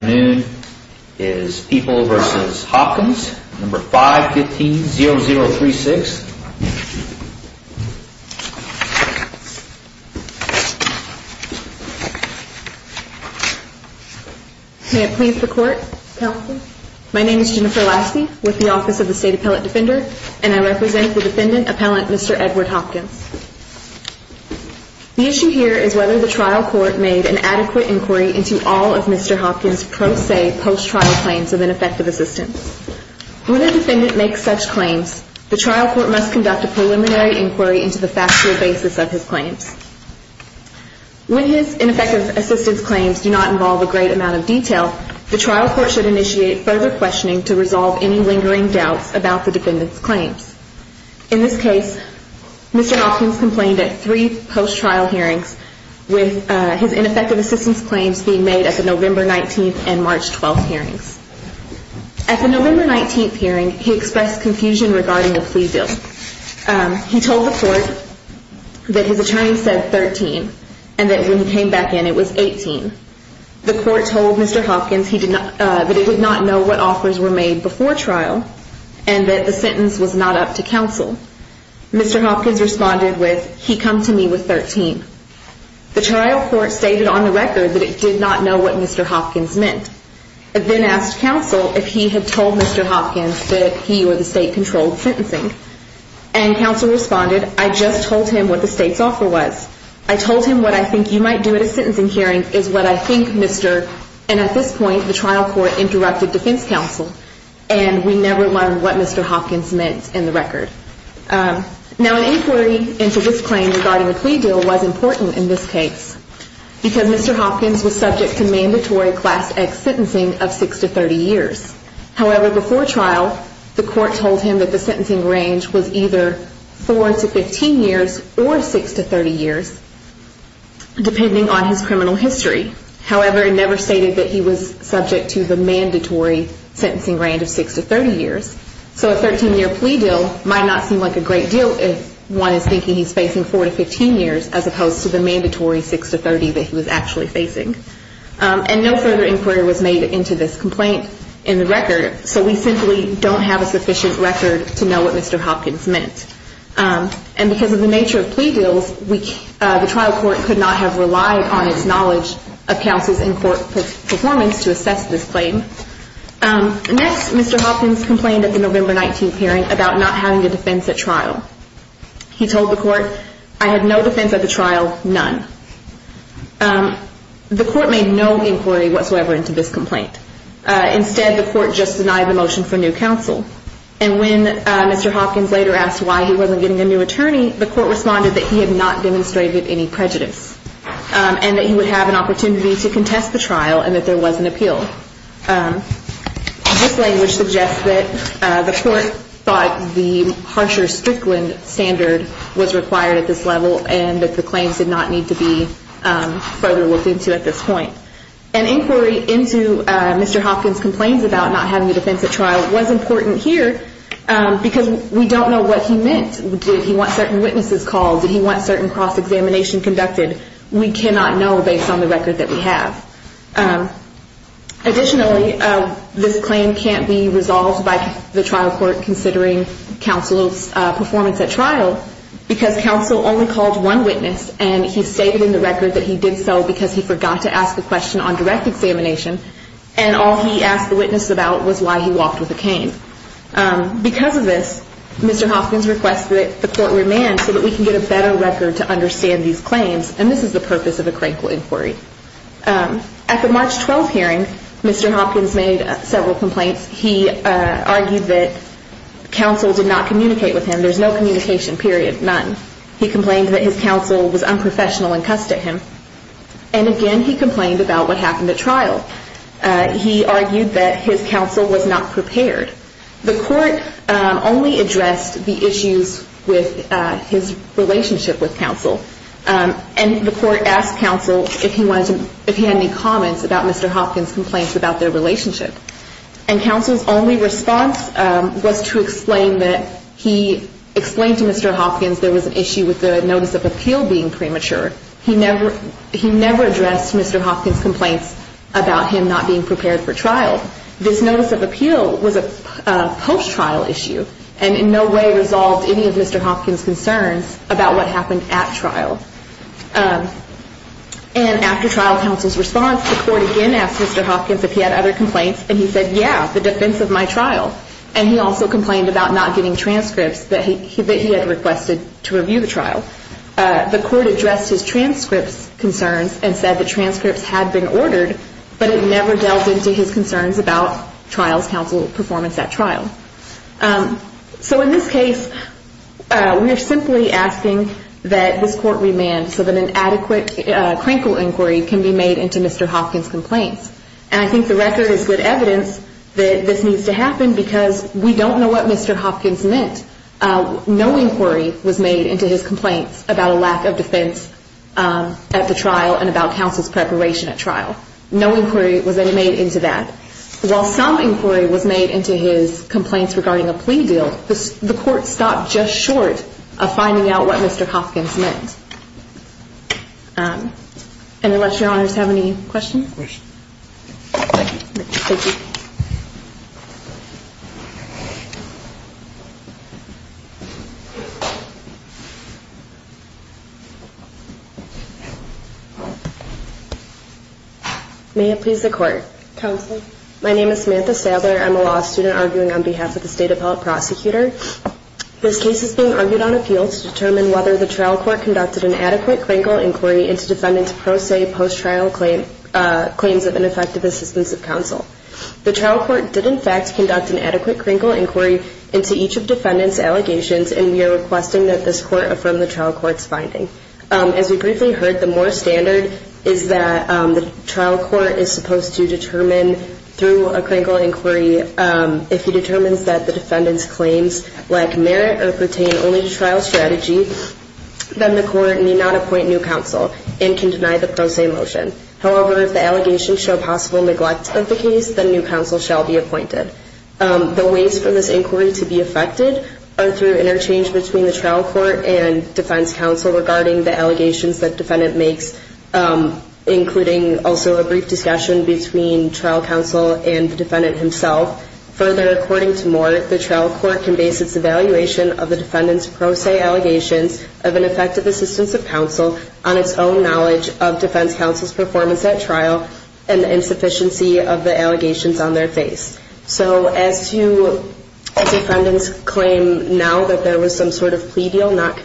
May it please the Court, Counsel. My name is Jennifer Lasky with the Office of the State Appellate Defender and I represent the Defendant Appellant Mr. Edward Hopkins. The issue here is whether the trial court made an adequate inquiry into all of Mr. Hopkins' pro se post trial claims of ineffective assistance. When a defendant makes such claims, the trial court must conduct a preliminary inquiry into the factual basis of his claims. When his ineffective assistance claims do not involve a great amount of detail, the trial court should initiate further questioning to resolve any lingering doubts about the defendant's claims. In this his ineffective assistance claims being made at the November 19th and March 12th hearings. At the November 19th hearing, he expressed confusion regarding the plea bill. He told the court that his attorney said 13 and that when he came back in it was 18. The court told Mr. Hopkins that it did not know what offers were made before trial and that the trial court stated on the record that it did not know what Mr. Hopkins meant. It then asked counsel if he had told Mr. Hopkins that he or the state controlled sentencing. And counsel responded, I just told him what the state's offer was. I told him what I think you might do at a sentencing hearing is what I think Mr. and at this point the trial court interrupted defense counsel and we never learned what Mr. Hopkins meant in the record. Now an inquiry into this claim regarding the plea deal was important in this case because Mr. Hopkins was subject to mandatory class X sentencing of 6 to 30 years. However, before trial the court told him that the sentencing range was either 4 to 15 years or 6 to 30 years depending on his criminal history. However, it never stated that he was subject to the mandatory sentencing range of 6 to 30 years. So a 13 year plea deal might not seem like a great deal if one is thinking he's facing 4 to 15 years as opposed to the mandatory 6 to 30 that he was actually facing. And no further inquiry was made into this complaint in the record so we simply don't have a sufficient record to know what Mr. Hopkins meant. And because of the nature of plea deals the trial court could not have relied on its knowledge of counsel's in court performance to assess this claim. Next Mr. Hopkins complained at the November 19th hearing about not having a defense at trial. He told the court, I had no defense at the trial, none. The court made no inquiry whatsoever into this complaint. Instead the court just denied the motion for new counsel. And when Mr. Hopkins later asked why he wasn't getting a new attorney the court responded that he had not demonstrated any prejudice and that he would have an opportunity to contest the trial and that there was an The court thought the harsher Strickland standard was required at this level and that the claims did not need to be further looked into at this point. An inquiry into Mr. Hopkins' complaints about not having a defense at trial was important here because we don't know what he meant. Did he want certain witnesses called? Did he want certain cross-examination conducted? We cannot know based on the record that we have. Additionally this claim can't be resolved by the trial court considering counsel's performance at trial because counsel only called one witness and he stated in the record that he did so because he forgot to ask the question on direct examination and all he asked the witness about was why he walked with a cane. Because of this Mr. Hopkins requested that the court remand so that we can get a better record to understand these claims and this is the purpose of a crankle inquiry. At the March 12th hearing Mr. Hopkins made several complaints. He argued that counsel did not communicate with him. There's no communication period. None. He complained that his counsel was unprofessional and cussed at him. And again he complained about what happened at trial. He argued that his counsel was not prepared. The court only addressed the issues with his relationship with counsel. And the court asked counsel if he had any comments about Mr. Hopkins' complaints about their relationship. And counsel's only response was to explain that he explained to Mr. Hopkins there was an issue with the notice of appeal being premature. He never addressed Mr. Hopkins' complaints about him not being prepared for trial. This notice of appeal was a post-trial issue and in no way resolved any of Mr. Hopkins' concerns about what happened at trial. And after trial counsel's response the court again asked Mr. Hopkins if he had other complaints and he said yeah, the defense of my trial. And he also complained about not getting transcripts that he had requested to review the trial. The court addressed his transcripts concerns and said the transcripts had been ordered but it never delved into his concerns about trial's counsel performance at trial. So in this case we are simply asking that this court remand so that an adequate crinkle inquiry can be made into Mr. Hopkins' complaints. And I think the record is good evidence that this needs to happen because we don't know what Mr. Hopkins meant. No inquiry was made into his complaints about a lack of defense at the trial and about counsel's preparation at trial. No inquiry was made into that. While some inquiry was made into his complaints regarding a plea deal, the court stopped just short of finding out what Mr. Hopkins meant. And unless your honors have any questions? May it please the court. Counselor. My name is Samantha Sadler. I'm a law student arguing on behalf of the state appellate prosecutor. This case is being argued on appeal to determine whether the trial court conducted an adequate crinkle inquiry into defendant's pro se post trial claims of ineffective assistance of counsel. The trial court did in fact conduct an adequate crinkle inquiry into each of defendant's allegations and we are requesting that this court affirm the trial court's finding. As we briefly heard, the Moore standard is that the trial court is supposed to determine through a crinkle inquiry if he determines that the defendant's claims lack merit or pertain only to trial strategy, then the court need not appoint new counsel and can deny the pro se motion. However, if the allegations show possible neglect of the case, then new counsel shall be appointed. The ways for this inquiry to be effected are through interchange between the trial court and defense counsel regarding the allegations that defendant makes, including also a brief discussion between trial counsel and the defendant himself. Further, according to Moore, the trial court can base its evaluation of the defendant's pro se allegations of ineffective assistance of counsel on its own knowledge of defense counsel's performance at trial and the insufficiency of the allegations on their face. So as to defendant's claim now that there was some sort of plea deal not what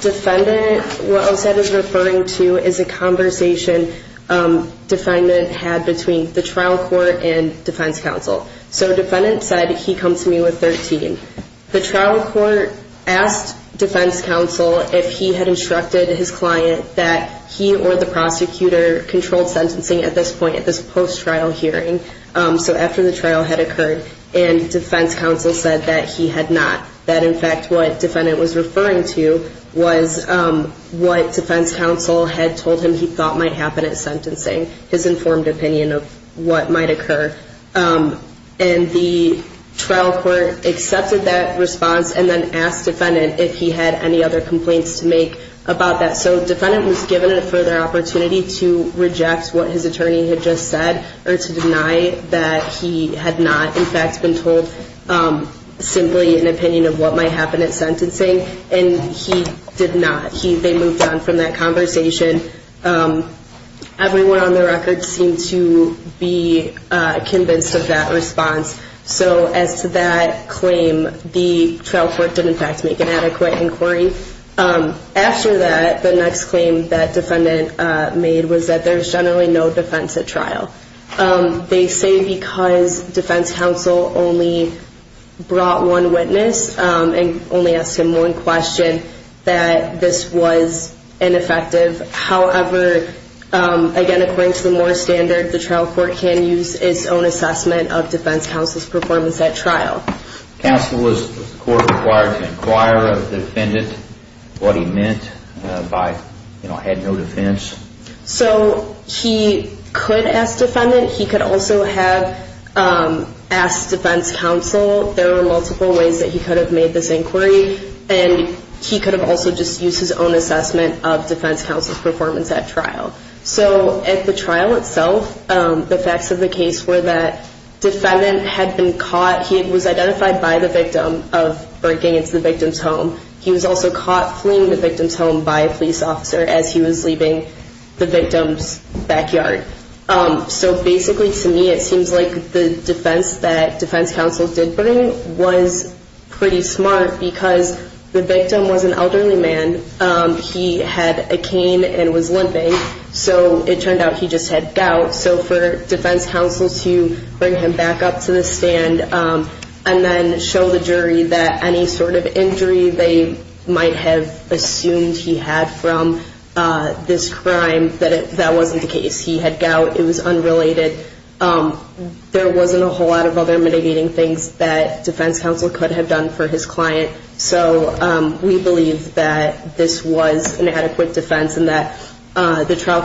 defendant well said is referring to is a conversation defendant had between the trial court and defense counsel. So defendant said he comes to me with 13. The trial court asked defense counsel if he had instructed his client that he or the prosecutor controlled sentencing at this point at this post trial hearing. So after the trial had occurred and defense counsel said that he had not, that in fact what defendant was referring to was what defense counsel had told him he thought might happen at sentencing, his informed opinion of what might occur. And the trial court accepted that response and then asked defendant if he had any other complaints to make about that. So defendant was given a further opportunity to reject what his attorney had just said or to deny that he had not in fact been told simply an opinion of what might happen at sentencing. And he did not. They moved on from that conversation. Everyone on the record seemed to be convinced of that response. So as to that claim, the trial court did in fact make an adequate inquiry. After that, the next claim that defendant made was that there's generally no defense at trial. They say because defense counsel only brought one witness and only asked him one question, that this was ineffective. However, again, according to the Moore standard, the trial court can use its own assessment of defense counsel's performance at trial. Counsel was required to inquire of defendant what he meant by, you know, had no defense. So he could ask defense counsel. There are multiple ways that he could have made this inquiry. And he could have also just used his own assessment of defense counsel's performance at trial. So at the trial itself, the facts of the case were that defendant had been caught. He was identified by the victim of breaking into the victim's home. He was also caught fleeing the victim's home by a police officer as he was leaving the victim's backyard. So basically to me, it seems like the defense that defense counsel did bring was pretty smart because the victim was an elderly man. He had a cane and was limping. So it turned out he just had gout. So for defense counsel to bring him back up to the stand and then show the jury that any sort of injury they might have assumed he had from this crime, that wasn't the case. He had gout. It was unrelated. There wasn't a whole lot of other mitigating things that defense counsel could have done for his client. So we believe that this was an adequate defense and that the trial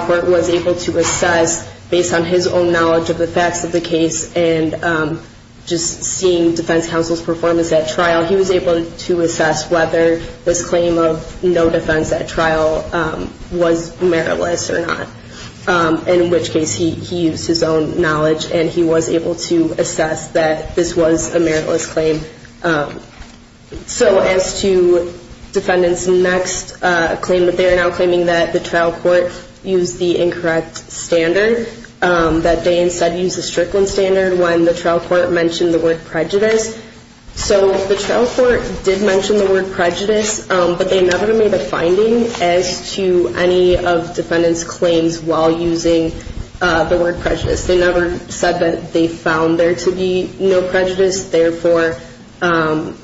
court was able to assess based on his own knowledge of the facts of the case. And just seeing defense counsel's performance at trial, he was able to assess whether this claim of no defense at trial was meritless or not. In which case, he used his own knowledge and he was able to assess that this was a meritless claim. So as to defendant's next claim, they are now claiming that the trial court used the incorrect standard, that they instead used the Strickland standard when the trial court mentioned the word prejudice. So the trial court did mention the word prejudice, but they never made a finding as to any of defendant's claims while using the word prejudice. They never said that they found there to be no prejudice, therefore, that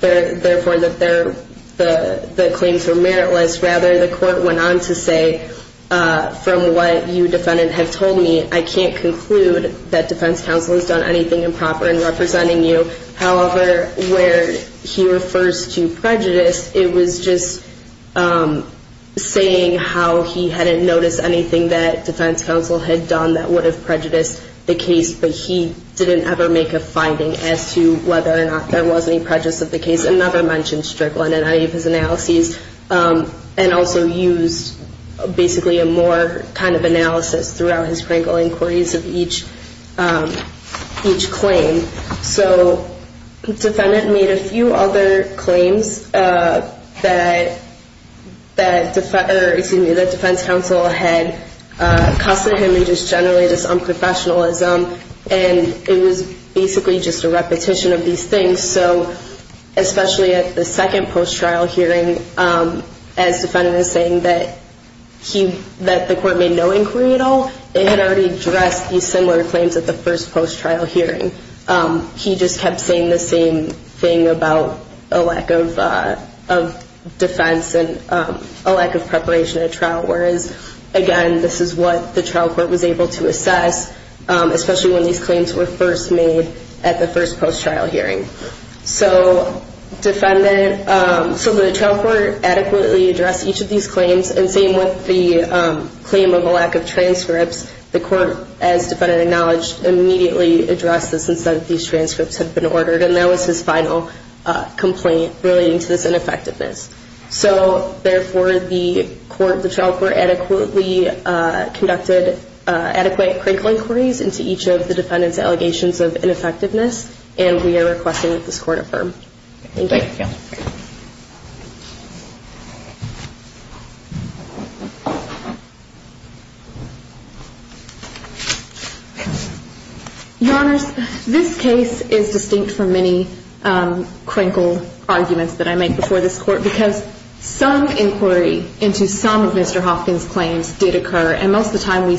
the claims were meritless. Rather, the court went on to say, from what you, defendant, have told me, I can't conclude that I'm representing you. However, where he refers to prejudice, it was just saying how he hadn't noticed anything that defense counsel had done that would have prejudiced the case. But he didn't ever make a finding as to whether or not there was any prejudice of the case. And never mentioned Strickland in any of his analyses. And also used basically a more kind of analysis throughout his wrinkle inquiries of each claim. So the defendant made a few other claims that defense counsel had accosted him and just generally just unprofessionalism. And it was basically just a repetition of these things. So especially at the second post-trial hearing, as defendant is saying that the court made no inquiry at all, it had already addressed these similar claims at the first post-trial hearing. He just kept saying the same thing about a lack of defense and a lack of preparation at trial. Whereas, again, this is what the trial court was able to assess, especially when these So the trial court adequately addressed each of these claims. And same with the claim of a lack of transcripts. The court, as defendant acknowledged, immediately addressed this and said these transcripts had been ordered. And that was his final complaint relating to this ineffectiveness. So therefore, the trial court adequately conducted adequate crinkle inquiries into each of the defendant's allegations of ineffectiveness. And we are requesting that this court affirm. Your Honors, this case is distinct from many crinkle arguments that I make before this court because some inquiry into some of Mr. Hopkins' claims did occur. And most of the time, we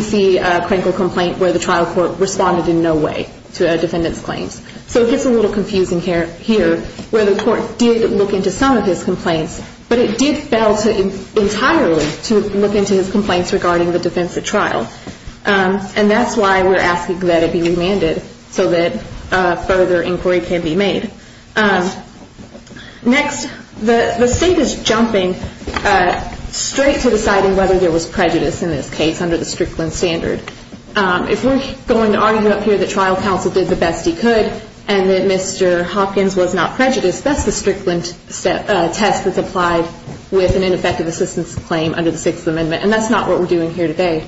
see a crinkle complaint where the trial court responded in no way to a defendant's here where the court did look into some of his complaints. But it did fail entirely to look into his complaints regarding the defense at trial. And that's why we're asking that it be remanded so that further inquiry can be made. Next, the state is jumping straight to deciding whether there was prejudice in this case under the Strickland standard. If we're going to argue here that trial counsel did the best he could and that Mr. Hopkins was not prejudiced, that's the Strickland test that's applied with an ineffective assistance claim under the Sixth Amendment. And that's not what we're doing here today.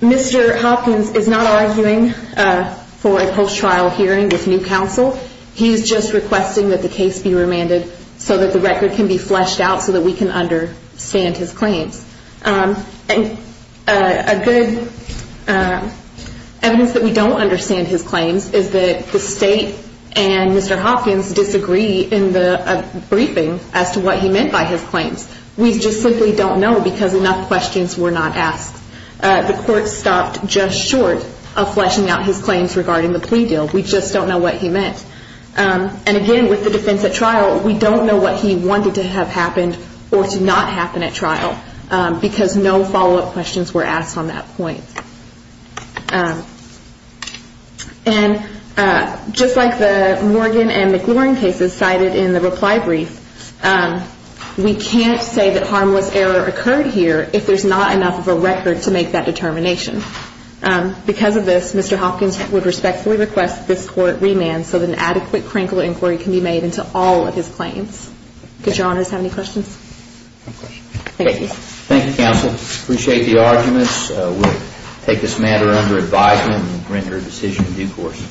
Mr. Hopkins is not arguing for a post-trial hearing with new counsel. He's just requesting that the case be remanded so that the record can be fleshed out so that we can understand his claims. And a good evidence that we don't understand his claims is that the state and Mr. Hopkins disagree in the briefing as to what he meant by his claims. We just simply don't know because enough questions were not asked. The court stopped just short of fleshing out his claims regarding the plea deal. We just don't know what he meant. And again, with the defense at trial, we don't know what he wanted to have happened or to not happen at trial because no follow-up questions were asked on that point. And just like the Morgan and McLaurin cases cited in the reply brief, we can't say that harmless error occurred here if there's not enough of a record to make that determination. Because of this, Mr. Hopkins would respectfully request this court remand so that an adequate crinkle inquiry can be made into all of his claims. Does Your Honors have any questions? No questions. Thank you. Thank you, counsel. Appreciate the arguments. We'll take this matter under advisement and render a decision in due course.